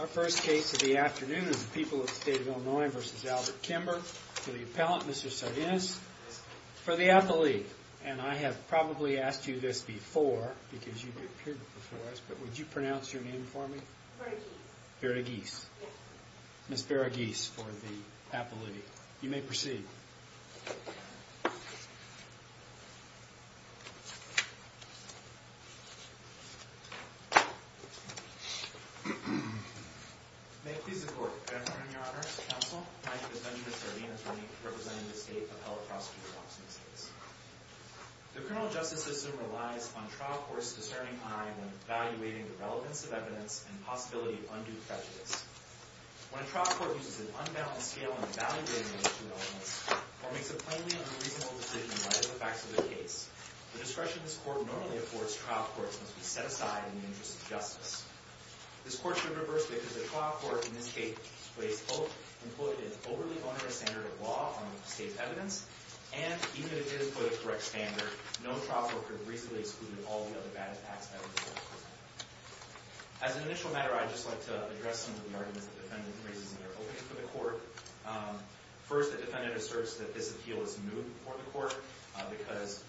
Our first case of the afternoon is the people of the state of Illinois v. Albert Kimber. To the appellant, Mr. Sardinus, for the appellate. And I have probably asked you this before, because you've appeared before us, but would you pronounce your name for me? Varughese. Varughese. Ms. Varughese for the appellate. You may proceed. May it please the Court. Good afternoon, Your Honor, Counsel, My name is Benjamin Sardinus, representing the State Appellate Prosecutor's Office in the States. The criminal justice system relies on trial courts discerning time and evaluating the relevance of evidence and possibility of undue prejudice. When a trial court uses an unbalanced scale in evaluating these two elements, or makes a plainly unreasonable decision by the facts of the case, the discretion this court normally affords trial courts must be set aside in the interest of justice. This court should reverse because a trial court in this case placed hope and put an overly onerous standard of law on the state's evidence, and even if it did put a correct standard, no trial court could reasonably exclude all the other bad effects of evidence. As an initial matter, I'd just like to address some of the arguments the defendant raises in their opening for the court. First, the defendant asserts that this appeal is new for the court, because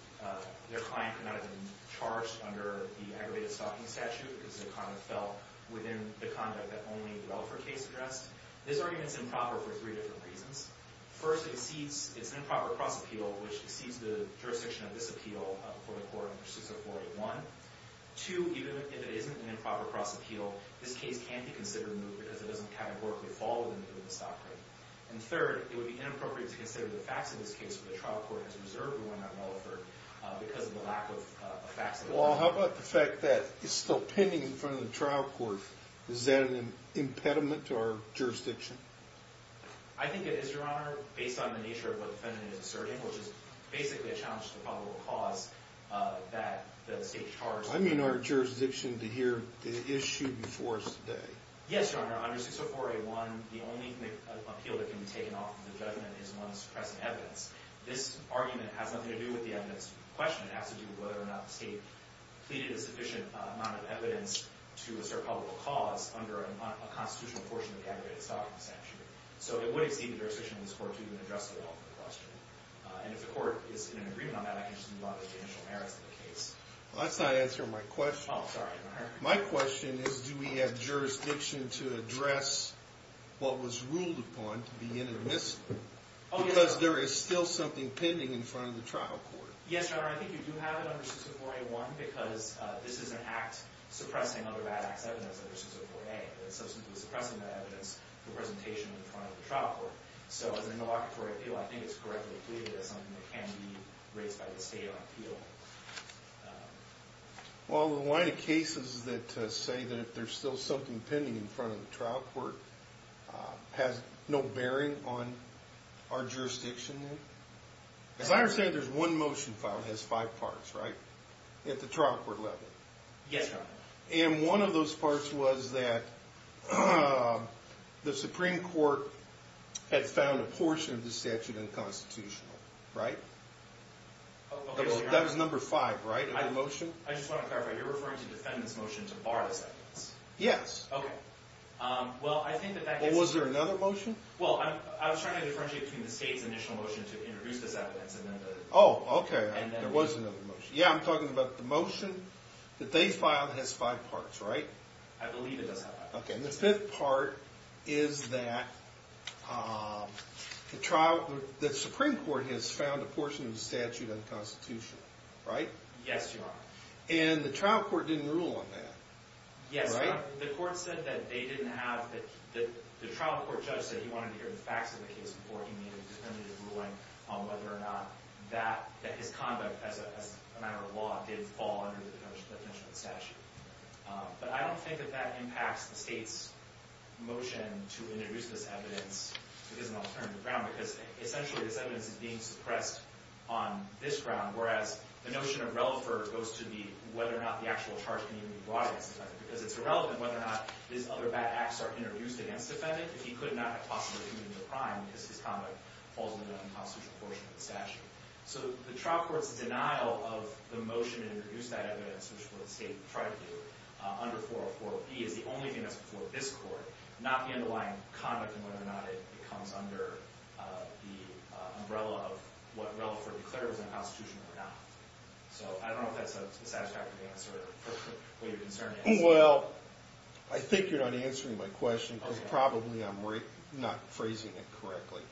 their client could not have been charged under the aggravated stalking statute because the conduct fell within the conduct that only the Relaford case addressed. This argument is improper for three different reasons. First, it's an improper cross-appeal, which exceeds the jurisdiction of this appeal for the court in Procedure 481. Two, even if it isn't an improper cross-appeal, this case can't be considered new because it doesn't categorically fall within the scope of the stalking. And third, it would be inappropriate to consider the facts of this case when the trial court has reserved the one that Relaford because of the lack of facts. Well, how about the fact that it's still pending in front of the trial court? Is that an impediment to our jurisdiction? I think it is, Your Honor, based on the nature of what the defendant is asserting, which is basically a challenge to the probable cause that the state charged. I mean our jurisdiction to hear the issue before us today. Yes, Your Honor. Under 604A1, the only appeal that can be taken off the judgment is one suppressing evidence. This argument has nothing to do with the evidence question. It has to do with whether or not the state pleaded a sufficient amount of evidence to assert probable cause under a constitutional portion of the aggravated stalking sanction. So it would exceed the jurisdiction of this court to even address the law for the question. And if the court is in agreement on that, I can just move on to the initial merits of the case. That's not answering my question. Oh, sorry. My question is, do we have jurisdiction to address what was ruled upon to be intermissive? Because there is still something pending in front of the trial court. Yes, Your Honor. I think you do have it under 604A1, because this is an act suppressing other bad acts evidence under 604A. Substantively suppressing that evidence for presentation in front of the trial court. So as an interlocutory appeal, I think it's correctly pleaded as something that can be raised by the state on appeal. Well, the line of cases that say that there's still something pending in front of the trial court has no bearing on our jurisdiction then? As I understand, there's one motion file that has five parts, right? At the trial court level. Yes, Your Honor. And one of those parts was that the Supreme Court had found a portion of the statute unconstitutional. Right? That was number five, right? I just want to clarify. You're referring to the defendant's motion to bar the sentence. Yes. Okay. Well, I think that that gives us... Well, was there another motion? Well, I was trying to differentiate between the state's initial motion to introduce this evidence and then the... Oh, okay. There was another motion. Yeah, I'm talking about the motion that they filed has five parts, right? I believe it does have five parts. Okay. And the fifth part is that the Supreme Court has found a portion of the statute unconstitutional. Right? Yes, Your Honor. And the trial court didn't rule on that. Yes. Right? The court said that they didn't have... The trial court judge said he wanted to hear the facts of the case before he made a definitive ruling on whether or not that his conduct as a matter of law did fall under the definition of the statute. But I don't think that that impacts the state's motion to introduce this evidence. It doesn't alter the ground, because essentially this evidence is being suppressed on this ground, whereas the notion of relevance goes to whether or not the actual charge can even be brought against the defendant. Because it's irrelevant whether or not these other bad acts are introduced against the defendant if he could not have possibly been in the prime because his conduct falls under the unconstitutional portion of the statute. So the trial court's denial of the motion to introduce that evidence, which is what the state tried to do, under 404B, is the only thing that's before this court, not the underlying conduct and whether or not it comes under the umbrella of what Reliford declared was unconstitutional or not. So I don't know if that's a satisfactory answer for what you're concerned with. Well, I think you're not answering my question, because probably I'm not phrasing it correctly.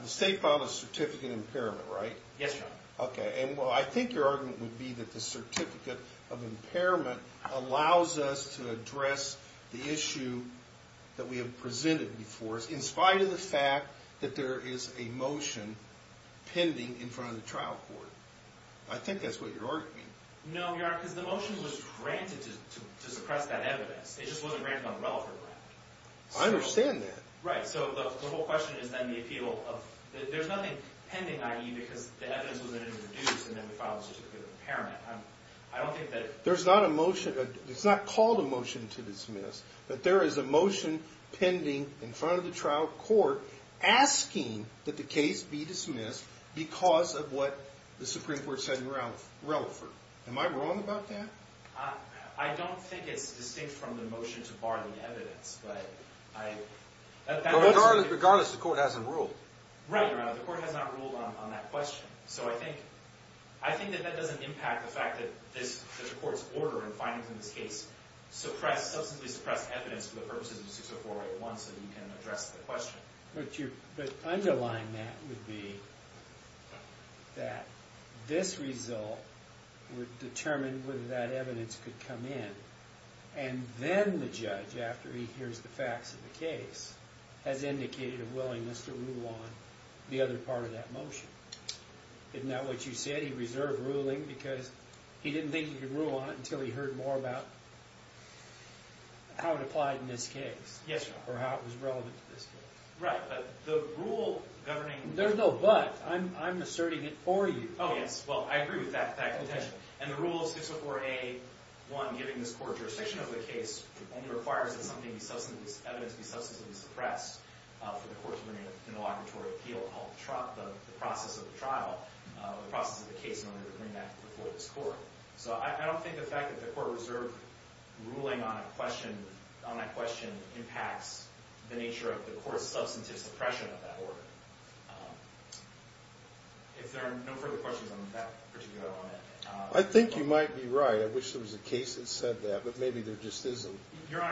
The state filed a certificate of impairment, right? Yes, Your Honor. OK. And I think your argument would be that the certificate of impairment allows us to address the issue that we have presented before us in spite of the fact that there is a motion pending in front of the trial court. I think that's what you're arguing. No, Your Honor, because the motion was granted to suppress that evidence. It just wasn't granted on Reliford ground. I understand that. Right. So the whole question is then the appeal of there's nothing pending, i.e., because the evidence was introduced, and then the file was just a certificate of impairment. I don't think that it— There's not a motion—it's not called a motion to dismiss, but there is a motion pending in front of the trial court asking that the case be dismissed because of what the Supreme Court said in Reliford. Am I wrong about that? I don't think it's distinct from the motion to bar the evidence, but I— Regardless, the court hasn't ruled. Right, Your Honor. The court has not ruled on that question. So I think that that doesn't impact the fact that the court's order and findings in this case suppress—substantively suppress evidence for the purposes of 60481 so that you can address the question. But underlying that would be that this result would determine whether that evidence could come in, and then the judge, after he hears the facts of the case, has indicated a willingness to rule on the other part of that motion. Isn't that what you said? Because he didn't think he could rule on it until he heard more about how it applied in this case. Yes, Your Honor. Or how it was relevant to this case. Right, but the rule governing— There's no but. I'm asserting it for you. Oh, yes. Well, I agree with that contention. And the rule of 60481, given this court's jurisdiction of the case, only requires that some evidence be substantively suppressed for the court to bring an inauguratory appeal. I'll drop the process of the trial—the process of the case in order to bring that before this court. So I don't think the fact that the court reserved ruling on that question impacts the nature of the court's substantive suppression of that order. If there are no further questions on that particular element— I think you might be right. I wish there was a case that said that, but maybe there just isn't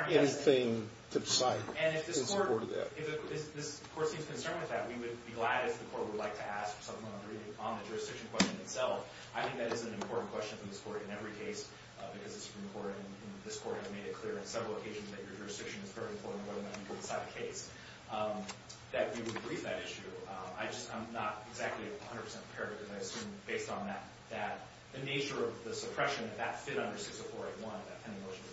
anything to cite in support of that. And if this court seems concerned with that, we would be glad if the court would like to ask something on the jurisdiction question itself. I think that is an important question for this court in every case, because this court has made it clear on several occasions that your jurisdiction is very important, whether or not you can decide the case. That you would agree with that issue. I'm not exactly 100% prepared, because I assume, based on the nature of the suppression, that that fit under 60481, that kind of motion.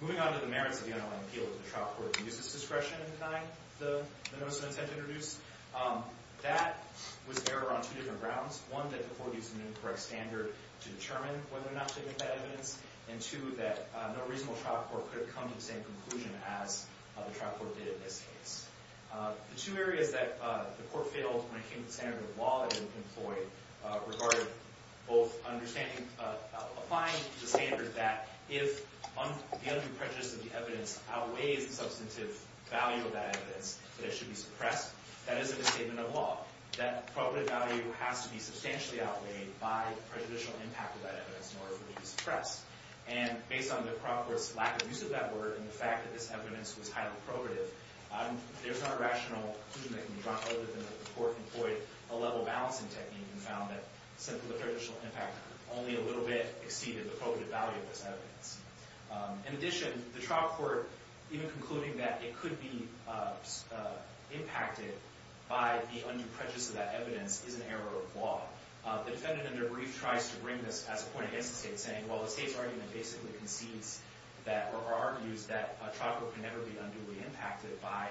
Moving on to the merits of the unaligned appeal. Did the trial court use this discretion in denying the notice of intent to introduce? That was there on two different grounds. One, that the court used an incorrect standard to determine whether or not to admit that evidence. And two, that no reasonable trial court could have come to the same conclusion as the trial court did in this case. The two areas that the court failed when it came to the standard of law that it employed, regarding both applying the standard that if the undue prejudice of the evidence outweighs the substantive value of that evidence, that it should be suppressed. That isn't a statement of law. That probative value has to be substantially outweighed by the prejudicial impact of that evidence in order for it to be suppressed. And based on the trial court's lack of use of that word, and the fact that this evidence was highly probative, there's no rational conclusion that can be drawn other than that the court employed a level balancing technique and found that simply the prejudicial impact only a little bit exceeded the probative value of this evidence. In addition, the trial court even concluding that it could be impacted by the undue prejudice of that evidence is an error of law. The defendant in their brief tries to bring this as a point against the state, saying, well, the state's argument basically concedes that, or argues that, a trial court can never be unduly impacted by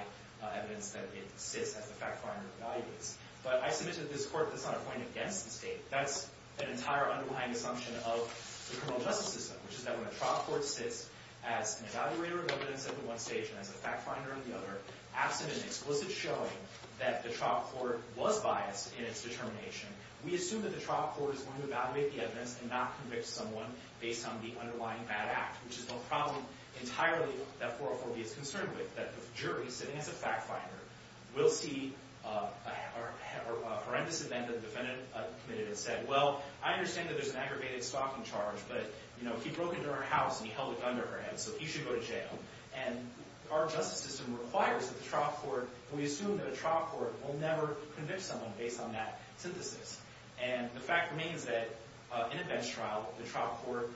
evidence that it exists as the fact-finding evaluates. But I submit to this court that's not a point against the state. That's an entire underlying assumption of the criminal justice system, which is that when a trial court sits as an evaluator of evidence at one stage and as a fact-finder at the other, absent an explicit showing that the trial court was biased in its determination, we assume that the trial court is going to evaluate the evidence and not convict someone based on the underlying bad act, which is no problem entirely that 404B is concerned with, that the jury, sitting as a fact-finder, will see a horrendous event that the defendant committed and say, well, I understand that there's an aggravated stalking charge, but he broke into our house and he held a gun to her head, so he should go to jail. And our justice system requires that the trial court, and we assume that a trial court, will never convict someone based on that synthesis. And the fact remains that in a bench trial, the trial court,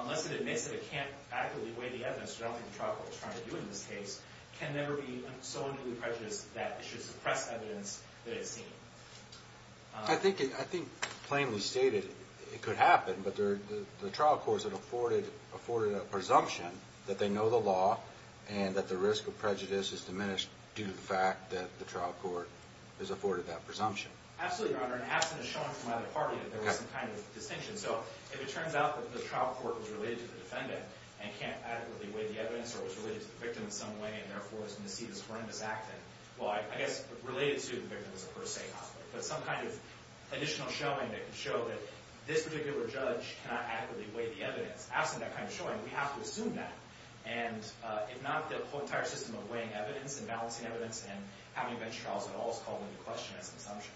unless it admits that it can't adequately weigh the evidence, which I don't think the trial court is trying to do in this case, can never be so under the prejudice that it should suppress evidence that it's seen. I think, plainly stated, it could happen, but the trial courts have afforded a presumption that they know the law and that the risk of prejudice is diminished due to the fact that the trial court has afforded that presumption. Absolutely, Your Honor, and absent a showing from either party that there was some kind of distinction. So if it turns out that the trial court was related to the defendant and can't adequately weigh the evidence or was related to the victim in some way and therefore is going to see this horrendous acting, well, I guess related to the victim is a per se conflict, but some kind of additional showing that can show that this particular judge cannot adequately weigh the evidence. Absent that kind of showing, we have to assume that. And if not, the whole entire system of weighing evidence and balancing evidence and having bench trials at all is called into question as an assumption.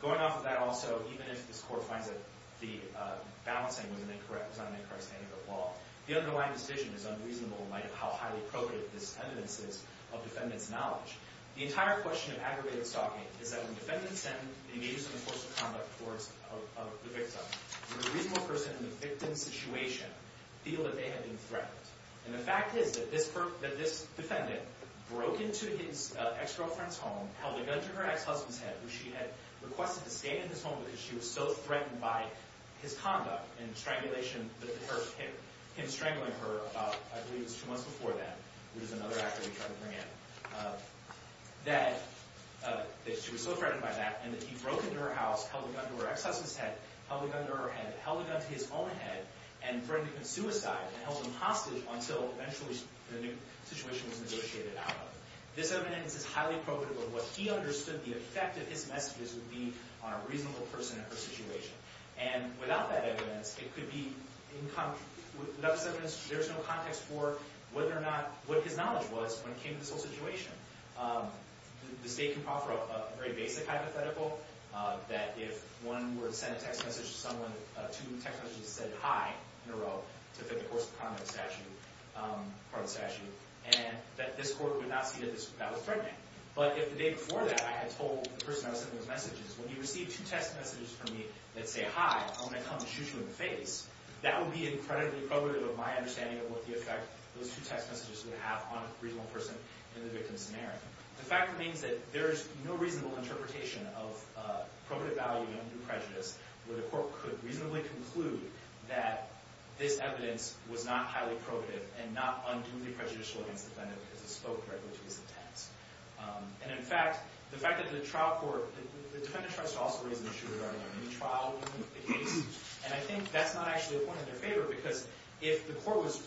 Going off of that also, even if this court finds that the balancing was not an incorrect stand of the law, the underlying decision is unreasonable in light of how highly appropriate this evidence is of defendant's knowledge. The entire question of aggravated stalking is that when defendants send the images of the force of conduct towards the victim, will a reasonable person in the victim's situation feel that they have been threatened? And the fact is that this defendant broke into his ex-girlfriend's home, held a gun to her ex-husband's head, which she had requested to stay in his home because she was so threatened by his conduct and strangulation, him strangling her about, I believe it was two months before that, which is another act that we tried to bring in, that she was so threatened by that and that he broke into her house, held a gun to her ex-husband's head, held a gun to her head, held a gun to his own head and threatened to commit suicide and held him hostage until eventually the situation was negotiated out of it. This evidence is highly appropriate of what he understood the effect of his messages would be on a reasonable person in her situation. And without that evidence, it could be incomplete. Without this evidence, there is no context for whether or not what his knowledge was when it came to this whole situation. The State can proffer a very basic hypothetical that if one were to send a text message to someone, if two text messages said hi in a row to fit the course of the primary statute, and that this court would not see that that was threatening. But if the day before that I had told the person I was sending those messages, when you receive two text messages from me that say hi, I'm going to come and shoot you in the face, that would be incredibly appropriate of my understanding of what the effect those two text messages would have on a reasonable person in the victim's scenario. The fact remains that there is no reasonable interpretation of appropriate value under prejudice where the court could reasonably conclude that this evidence was not highly probative and not unduly prejudicial against the defendant because it spoke directly to his intent. And in fact, the fact that the trial court, the defendant tries to also raise the issue regarding a mini-trial in the case, and I think that's not actually a point in their favor because if the court was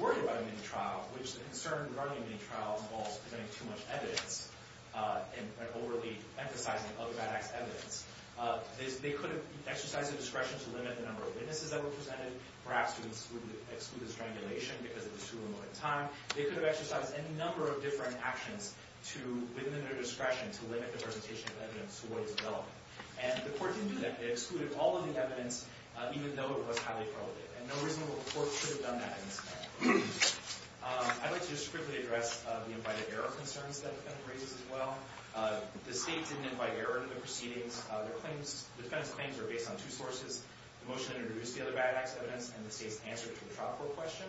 worried about a mini-trial, which the concern regarding a mini-trial involves presenting too much evidence and overly emphasizing other bad-ass evidence, they could have exercised their discretion to limit the number of witnesses that were presented, perhaps to exclude the strangulation because it was too remote a time. They could have exercised any number of different actions within their discretion to limit the presentation of evidence to what is relevant. And the court didn't do that. They excluded all of the evidence even though it was highly probative. And no reasonable court should have done that in this case. I'd like to just quickly address the invited error concerns that the defendant raises as well. The state didn't invite error into the proceedings. The defendant's claims are based on two sources, the motion that introduced the other bad-ass evidence and the state's answer to the trial court question.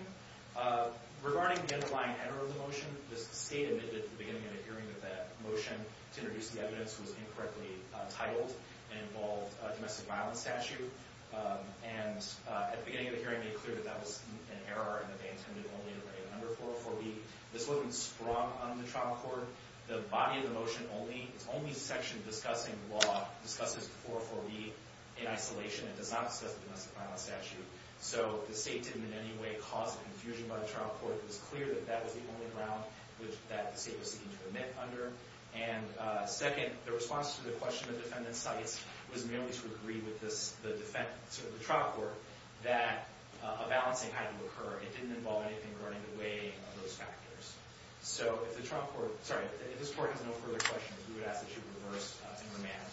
Regarding the underlying error of the motion, the state admitted at the beginning of the hearing that the motion to introduce the evidence was incorrectly titled and involved a domestic violence statute. And at the beginning of the hearing, it made clear that that was an error and that they intended only to lay it under 404B. This wasn't sprung on the trial court. The body of the motion only, its only section discussing law, discusses 404B in isolation. It does not discuss the domestic violence statute. So the state didn't in any way cause confusion by the trial court. It was clear that that was the only ground that the state was seeking to admit under. And second, the response to the question the defendant cites was merely to agree with the trial court that a balancing had to occur. It didn't involve anything going in the way of those factors. So if the trial court, sorry, if this court has no further questions, we would ask that you reverse and remand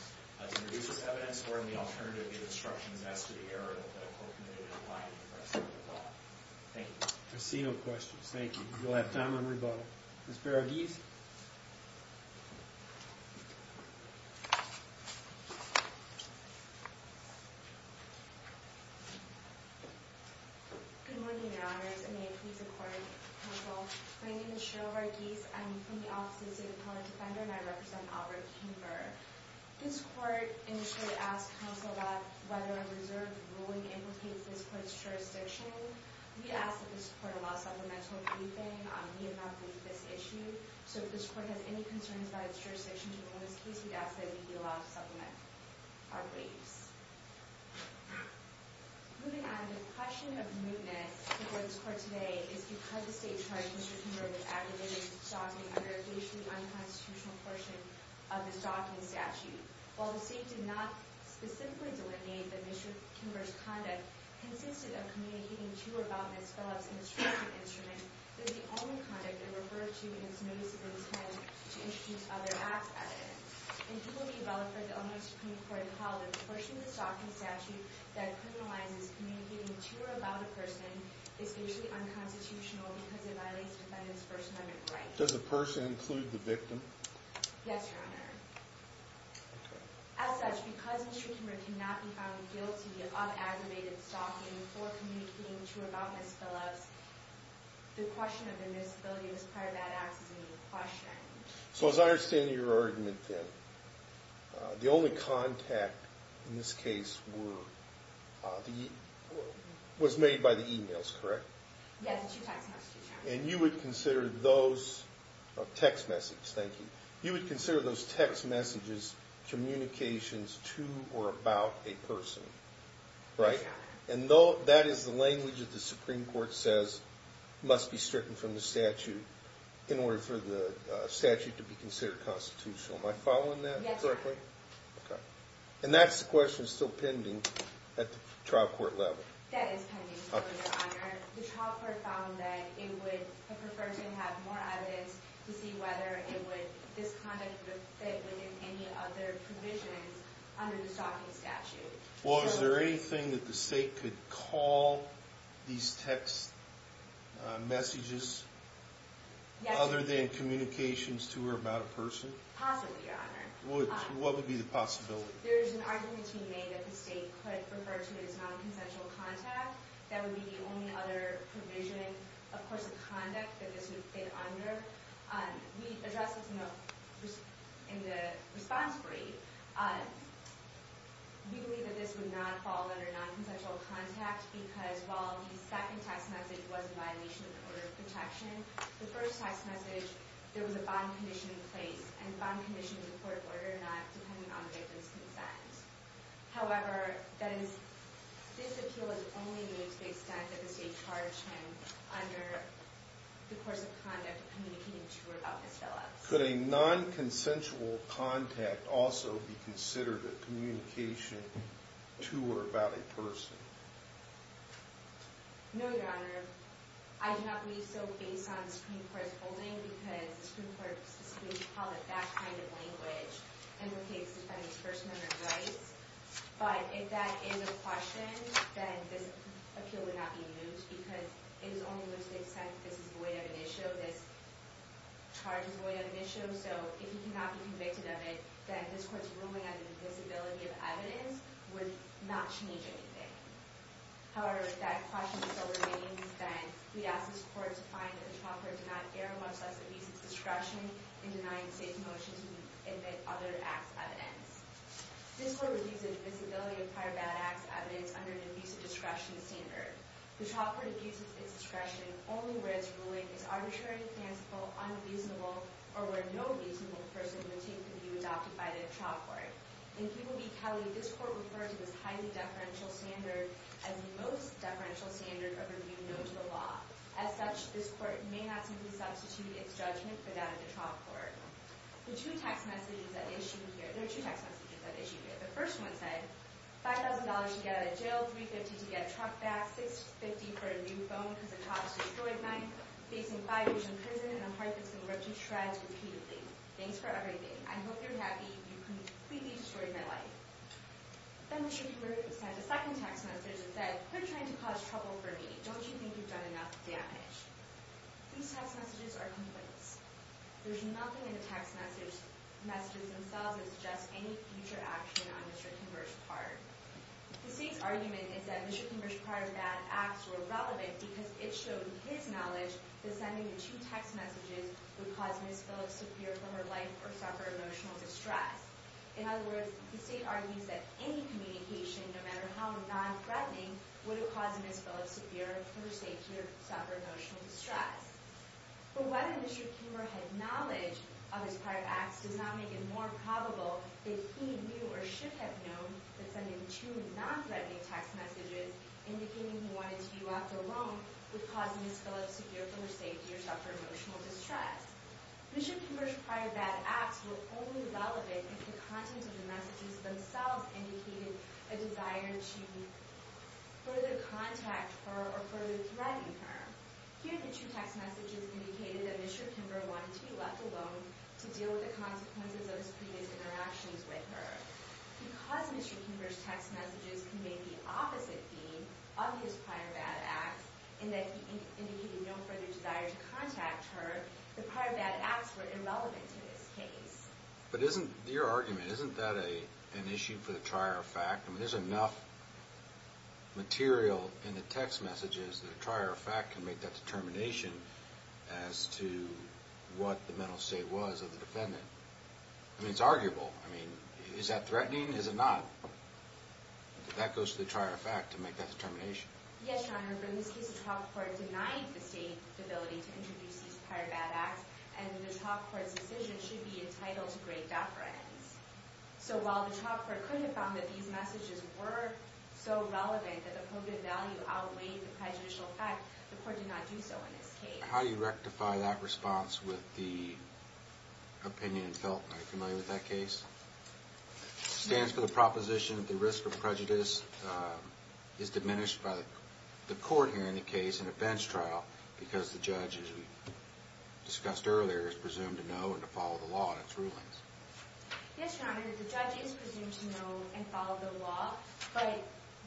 to introduce this evidence or in the alternative give instructions as to the error that the court committed in lying to the rest of the court. Thank you. I see no questions. Thank you. You'll have time on rebuttal. Ms. Barraghese? Good morning, Your Honors. And may it please the court and counsel. My name is Cheryl Barraghese. I'm from the Office of the State Appellant Defender, and I represent Albert King Burr. This court initially asked counsel about whether a reserved ruling implicates this court's jurisdiction. We ask that this court allow supplemental briefing on the amount briefed this issue. So if this court has any concerns about its jurisdiction in this case, we'd ask that it be allowed to supplement. Our briefs. Moving on, the question of mootness before this court today is because the state charged Mr. King Burr with aggravated stalking under a fatally unconstitutional portion of the stalking statute. While the state did not specifically delineate that Mr. King Burr's conduct consisted of communicating to or about Ms. Phillips and the stalking instrument, this is the only conduct it referred to in its notice of intent to introduce other acts at it. And it will be valid for the owner of the Supreme Court to call the portion of the stalking statute that criminalizes communicating to or about a person especially unconstitutional because it violates defendants' first amendment rights. Does the person include the victim? Yes, Your Honor. As such, because Mr. King Burr cannot be found guilty of aggravated stalking for communicating to or about Ms. Phillips, the question of the noticeability of this part of that act is a unique question. So as I understand your argument, then, the only contact in this case was made by the e-mails, correct? Yes, the two text messages. And you would consider those text messages, thank you, you would consider those text messages communications to or about a person, right? Yes, Your Honor. And that is the language that the Supreme Court says must be stricken from the statute in order for the statute to be considered constitutional. Am I following that correctly? Yes, Your Honor. Okay. And that's the question still pending at the trial court level. That is pending, Your Honor. The trial court found that it would prefer to have more evidence to see whether this conduct would fit within any other provisions under the stalking statute. Well, is there anything that the state could call these text messages other than communications to or about a person? Possibly, Your Honor. What would be the possibility? There is an argument to be made that the state could refer to it as non-consensual contact. That would be the only other provision, of course, of conduct that this would fit under. We addressed this in the response brief. We believe that this would not fall under non-consensual contact because while the second text message was in violation of the order of protection, the first text message, there was a bond condition in place, and bond conditions in court order are not dependent on the victim's consent. However, this appeal is only made to the extent that the state charged him under the course of conduct of communicating to or about his fellows. Could a non-consensual contact also be considered a communication to or about a person? No, Your Honor. I do not believe so based on the Supreme Court's holding because the Supreme Court specifically called it that kind of language in the case defending his First Amendment rights. But if that is a question, then this appeal would not be used because it is only made to the extent that this is void of an issue, this charge is void of an issue, so if he cannot be convicted of it, then this Court's ruling on the invisibility of evidence would not change anything. However, if that question still remains, then we ask this Court to find that the child court did not err much less abuse its discretion in denying the state's motion to admit other acts' evidence. This Court reviews the invisibility of prior bad acts' evidence under the abuse of discretion standard. The child court abuses its discretion only where its ruling is arbitrary, fanciful, unreasonable, or where no reasonable person would take the view adopted by the child court. In P. B. Kelly, this Court referred to this highly deferential standard as the most deferential standard of review known to the law. As such, this Court may not simply substitute its judgment for that of the child court. There are two text messages that issue here. The first one said, $5,000 to get out of jail, $350 to get a truck back, $650 for a new phone because a cop destroyed mine, facing five years in prison and a heart that's been ripped to shreds repeatedly. Thanks for everything. I hope you're happy. You completely destroyed my life. Then Mr. Kimber says a second text message that said, Quit trying to cause trouble for me. Don't you think you've done enough damage? These text messages are complaints. There's nothing in the text messages themselves that suggests any future action on Mr. Kimber's part. The state's argument is that Mr. Kimber's prior bad acts were relevant because it showed his knowledge that sending the two text messages would cause Ms. Phillips to fear for her life or suffer emotional distress. In other words, the state argues that any communication, no matter how nonthreatening, would have caused Ms. Phillips to fear for her safety or suffer emotional distress. But whether Mr. Kimber had knowledge of his prior acts does not make it more probable that he knew or should have known that sending two nonthreatening text messages indicating he wanted to be left alone would cause Ms. Phillips to fear for her safety or suffer emotional distress. Mr. Kimber's prior bad acts were only relevant if the content of the messages themselves indicated a desire to further contact her or further threaten her. Here, the two text messages indicated that Mr. Kimber wanted to be left alone to deal with the consequences of his previous interactions with her. Because Mr. Kimber's text messages conveyed the opposite theme of his prior bad acts in that he indicated no further desire to contact her, the prior bad acts were irrelevant in this case. But isn't your argument, isn't that an issue for the trier of fact? I mean, there's enough material in the text messages that a trier of fact can make that determination as to what the mental state was of the defendant. I mean, it's arguable. I mean, is that threatening? Is it not? That goes to the trier of fact to make that determination. Yes, Your Honor, but in this case, the trial court denied the state the ability to introduce these prior bad acts, and the trial court's decision should be entitled to great deference. So while the trial court could have found that these messages were so relevant that the coded value outweighed the prejudicial fact, the court did not do so in this case. How do you rectify that response with the opinion felt? Are you familiar with that case? It stands for the proposition that the risk of prejudice is diminished by the court hearing the case in a bench trial because the judge, as we discussed earlier, is presumed to know and to follow the law in its rulings. Yes, Your Honor, the judge is presumed to know and follow the law, but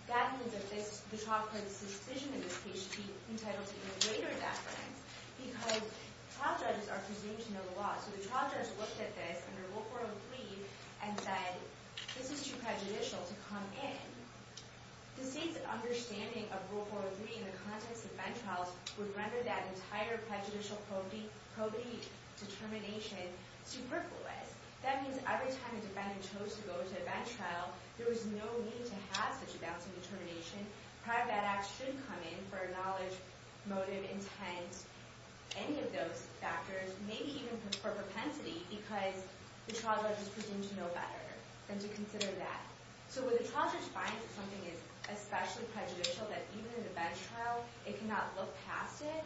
that means that the trial court's decision in this case should be entitled to greater deference because trial judges are presumed to know the law. So the trial judge looked at this under Rule 403 and said, this is too prejudicial to come in. The state's understanding of Rule 403 in the context of bench trials would render that entire prejudicial probate determination superfluous. That means every time a defendant chose to go to a bench trial, there was no need to have such a balancing determination. Prior bad acts should come in for a knowledge, motive, intent, any of those factors, maybe even for propensity because the trial judge is presumed to know better and to consider that. So when the trial judge finds that something is especially prejudicial, that even in a bench trial it cannot look past it,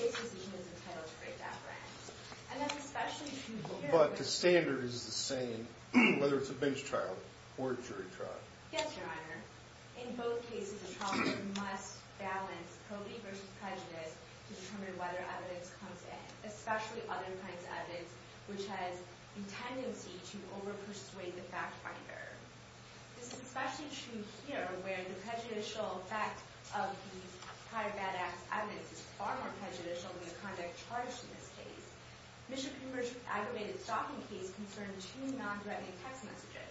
its decision is entitled to greater deference. And that's especially true here. But the standard is the same whether it's a bench trial or a jury trial. Yes, Your Honor. In both cases, the trial judge must balance probate versus prejudice to determine whether evidence comes in, especially other kinds of evidence, which has a tendency to over-persuade the fact finder. This is especially true here, where the prejudicial effect of these prior bad acts evidence is far more prejudicial than the conduct charged in this case. Mr. Kimber's aggravated stalking case concerned two non-threatening text messages.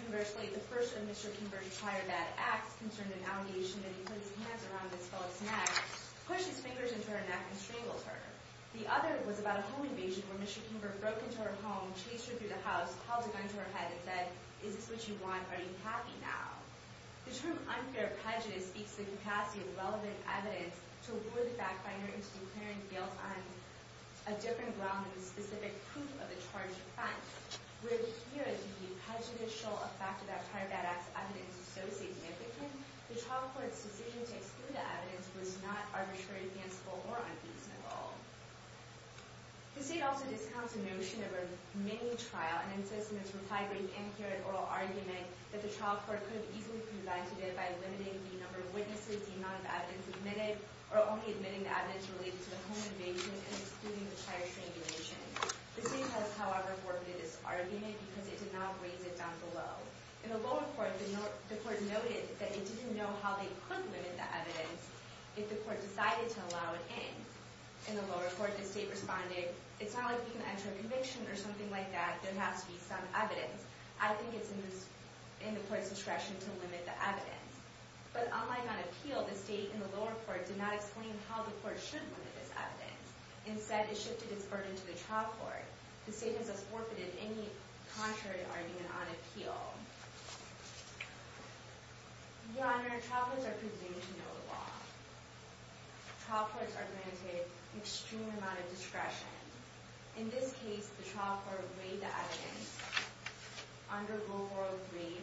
Conversely, the first of Mr. Kimber's prior bad acts concerned an allegation that he put his hands around Ms. Phillips' neck, pushed his fingers into her neck, and strangled her. The other was about a home invasion, where Mr. Kimber broke into her home, chased her through the house, held a gun to her head and said, Is this what you want? Are you happy now? The term unfair prejudice speaks to the capacity of relevant evidence to lure the fact finder into declaring guilt on a different ground than the specific proof of the charged offense. Where here, the prejudicial effect of that prior bad acts evidence is so significant, the trial court's decision to exclude the evidence was not arbitrary, fanciful, or unfeasible. The state also discounts the notion of a mini-trial and insists in its reprieve, anti-carrot, oral argument that the trial court could have easily prevented it by limiting the number of witnesses, the amount of evidence admitted, or only admitting the evidence related to the home invasion and excluding the prior strangulation. The state has, however, forfeited this argument because it did not raise it down below. In the lower court, the court noted that it didn't know how they could limit the evidence if the court decided to allow it in. In the lower court, the state responded, It's not like we can enter a conviction or something like that. There has to be some evidence. I think it's in the court's discretion to limit the evidence. But unlike on appeal, the state in the lower court did not explain how the court should limit this evidence. Instead, it shifted its burden to the trial court. The state has thus forfeited any contrary argument on appeal. Your Honor, trial courts are presumed to know the law. Trial courts are granted an extreme amount of discretion. In this case, the trial court weighed the evidence under global rate,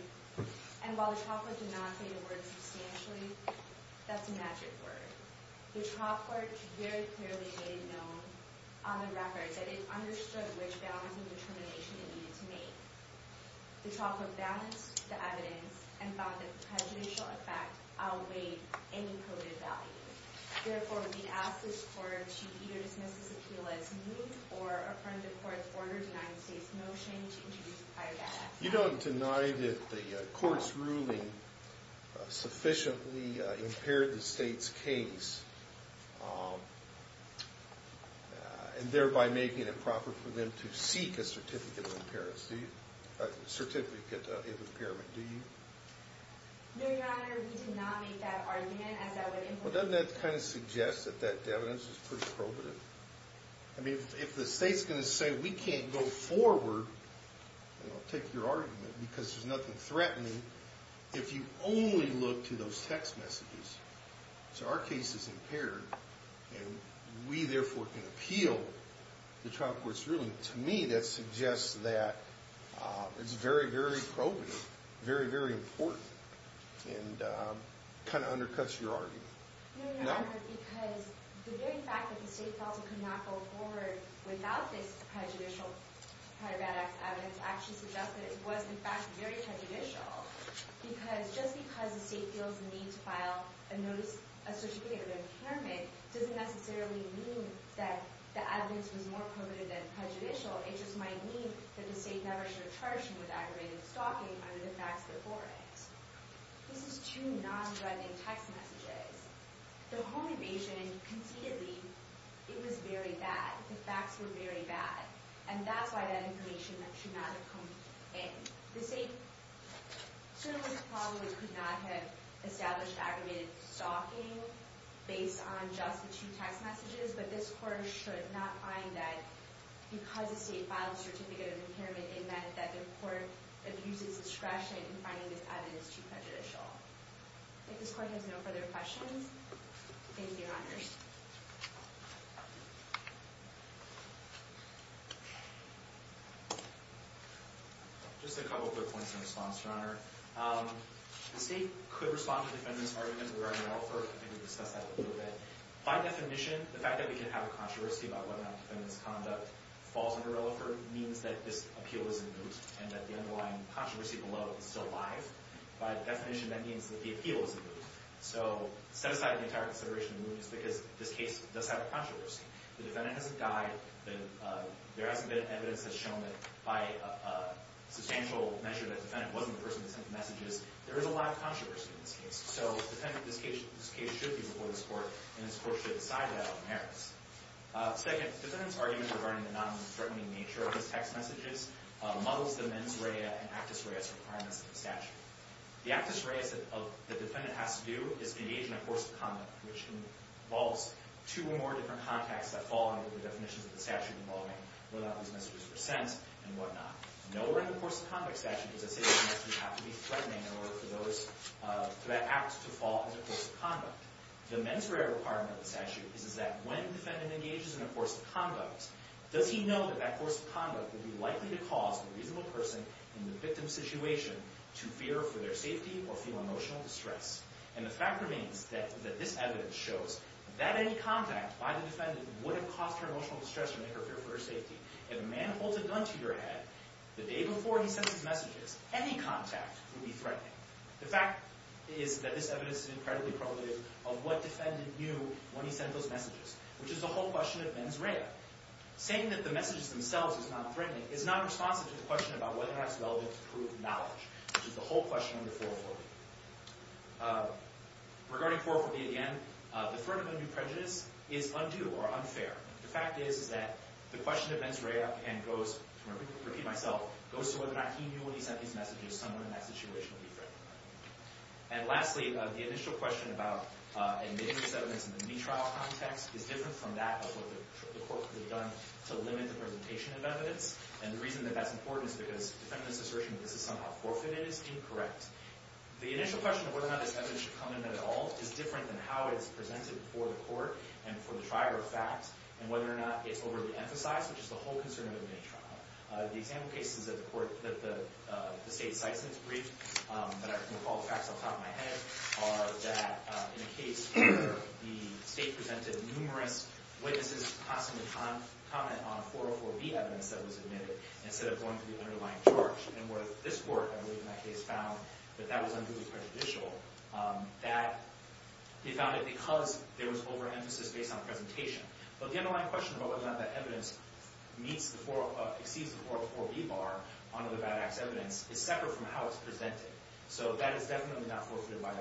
and while the trial court did not say the word substantially, that's a magic word. The trial court very clearly made it known on the record that it understood which balance and determination it needed to make. The trial court balanced the evidence and found that prejudicial effect outweighed any coded value. Therefore, we ask this court to either dismiss this appeal as new or affirm the court's order denying the state's motion to introduce the prior data. You don't deny that the court's ruling sufficiently impaired the state's case and thereby making it proper for them to seek a certificate of impairment, do you? Your Honor, we do not make that argument, as that would imply... Well, doesn't that kind of suggest that that evidence is pretty probative? I mean, if the state's going to say, we can't go forward, I'll take your argument, because there's nothing threatening if you only look to those text messages. So our case is impaired, and we, therefore, can appeal the trial court's ruling. To me, that suggests that it's very, very probative, very, very important, and kind of undercuts your argument. No, Your Honor, because the very fact that the state felt it could not go forward without this prejudicial prior data evidence actually suggests that it was, in fact, very prejudicial, because just because the state feels the need to file a certificate of impairment doesn't necessarily mean that the evidence was more probative than prejudicial. It just might mean that the state never should have charged him with aggravated stalking under the facts before it. This is two non-threatening text messages. The home evasion, conceitedly, it was very bad. The facts were very bad. And that's why that information should not have come in. The state certainly probably could not have established aggravated stalking based on just the two text messages, but this court should not find that because the state filed a certificate of impairment, it meant that the court abused its discretion in finding this evidence too prejudicial. I think this court has no further questions. Thank you, Your Honors. Just a couple of quick points in response, Your Honor. The state could respond to the defendant's argument regarding Relaford. I think we discussed that a little bit. By definition, the fact that we could have a controversy about whether or not the defendant's conduct falls under Relaford means that this appeal is in moot and that the underlying controversy below is still alive. By definition, that means that the appeal is in moot. So set aside the entire consideration of moot is because this case does have a controversy. The defendant hasn't died. There hasn't been evidence that's shown that by a substantial measure that the defendant wasn't the person that sent the messages. There is a lot of controversy in this case. So this case should be before this court, and this court should decide that on merits. Second, the defendant's argument regarding the nonthreatening nature of his text messages muddles the mens rea and actus reas requirements of the statute. The actus reas that the defendant has to do is engage in a course of conduct, which involves two or more different contexts that fall under the definitions of the statute involving whether or not these messages were sent and whatnot. Nowhere in the course of conduct statute does a sentencing act have to be threatening in order for that act to fall as a course of conduct. The mens rea requirement of the statute is that when the defendant engages in a course of conduct, does he know that that course of conduct would be likely to cause the reasonable person in the victim's situation to fear for their safety or feel emotional distress. And the fact remains that this evidence shows that any contact by the defendant would have caused her emotional distress or made her fear for her safety. If a man holds a gun to your head, the day before he sends his messages, any contact would be threatening. The fact is that this evidence is incredibly probative of what defendant knew when he sent those messages, which is the whole question of mens rea. Saying that the messages themselves is not threatening is not responsive to the question about whether or not it's relevant to prove knowledge, which is the whole question of the 404B. Regarding 404B again, the threat of undue prejudice is undue or unfair. The fact is that the question of mens rea and goes, to repeat myself, goes to whether or not he knew when he sent these messages, someone in that situation would be threatening. And lastly, the initial question about admitting this evidence in the me trial context is different from that of what the court could have done to limit the presentation of evidence. And the reason that that's important is because the defendant's assertion that this is somehow forfeited is incorrect. The initial question of whether or not this evidence should come in at all is different than how it's presented before the court and for the trier of fact, and whether or not it's overly emphasized, which is the whole concern of the me trial. The example cases that the state cites in its brief, but I can recall the facts off the top of my head, are that in a case where the state presented numerous witnesses constantly comment on 404B evidence that they're going to the underlying charge, and where this court, I believe in that case, found that that was unduly prejudicial, that they found it because there was overemphasis based on presentation. But the underlying question about whether or not that evidence exceeds the 404B bar under the Bad Acts evidence is separate from how it's presented. So that is definitely not forfeited by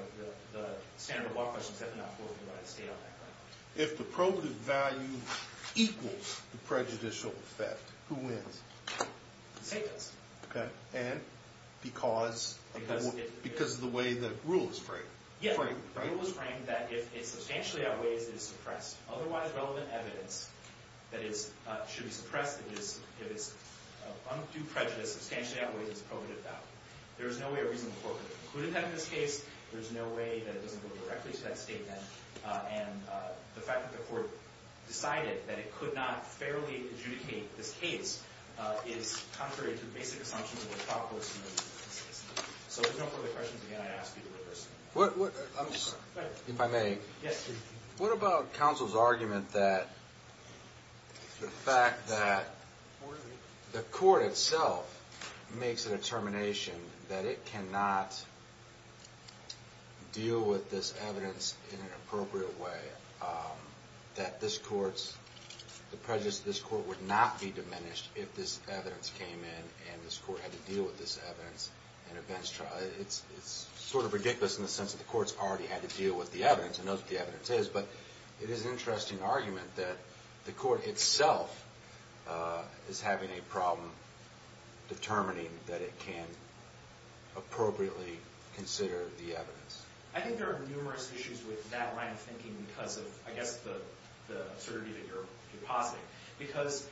the standard of law questions, definitely not forfeited by the state on that. If the probative value equals the prejudicial effect, who wins? The state does. OK. And because of the way the rule is framed. Yeah, the rule is framed that if it substantially outweighs, it is suppressed. Otherwise, relevant evidence that should be suppressed, if it's undue prejudice, substantially outweighs its probative value. There is no way a reasonable court could have concluded that in this case. There's no way that it doesn't go directly to that statement. And the fact that the court decided that it could not fairly adjudicate this case is contrary to the basic assumptions of the thought process. So if there's no further questions, again, I ask you to rehearse. If I may. Yes, please. What about counsel's argument that the fact that the court itself makes a determination that it cannot deal with this evidence in an appropriate way, that this court's prejudice, this court would not be diminished if this evidence came in and this court had to deal with this evidence in a bench trial. It's sort of ridiculous in the sense that the court's already had to deal with the evidence and know what the evidence is. But it is an interesting argument that the court itself is having a problem determining that it can appropriately consider the evidence. I think there are numerous issues with that line of thinking because of, I guess, the absurdity that you're positing. Because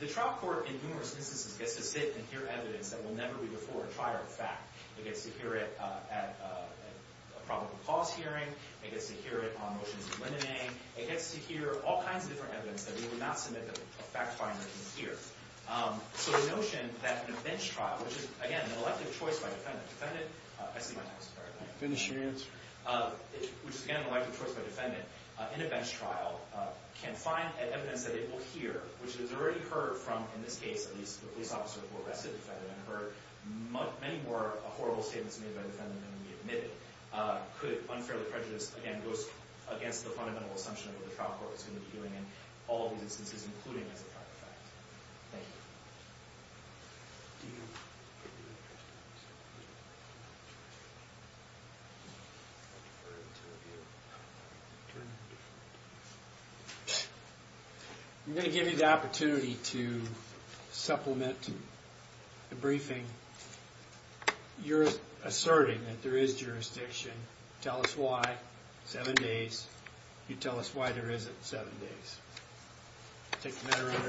the trial court, in numerous instances, gets to sit and hear evidence that will never be before a trial of fact. It gets to hear it at a probable cause hearing. It gets to hear it on motions of limiting. It gets to hear all kinds of different evidence that we would not submit that a fact finder can hear. So the notion that in a bench trial, which is, again, an elective choice by defendant. Defendant, I see you. Sorry about that. Finish your answer. Which is, again, an elective choice by defendant. In a bench trial, can find evidence that it will hear, which is already heard from, in this case, at least the police officer who arrested the defendant and heard many more horrible statements made by the defendant than can be admitted, could unfairly prejudice, again, goes against the fundamental assumption of what the trial court is going to be doing in all of these instances, including as a fact finder. Thank you. I'm going to give you the opportunity to supplement the briefing. You're asserting that there is jurisdiction. Tell us why. Seven days. You tell us why there isn't seven days. Take the matter under advice.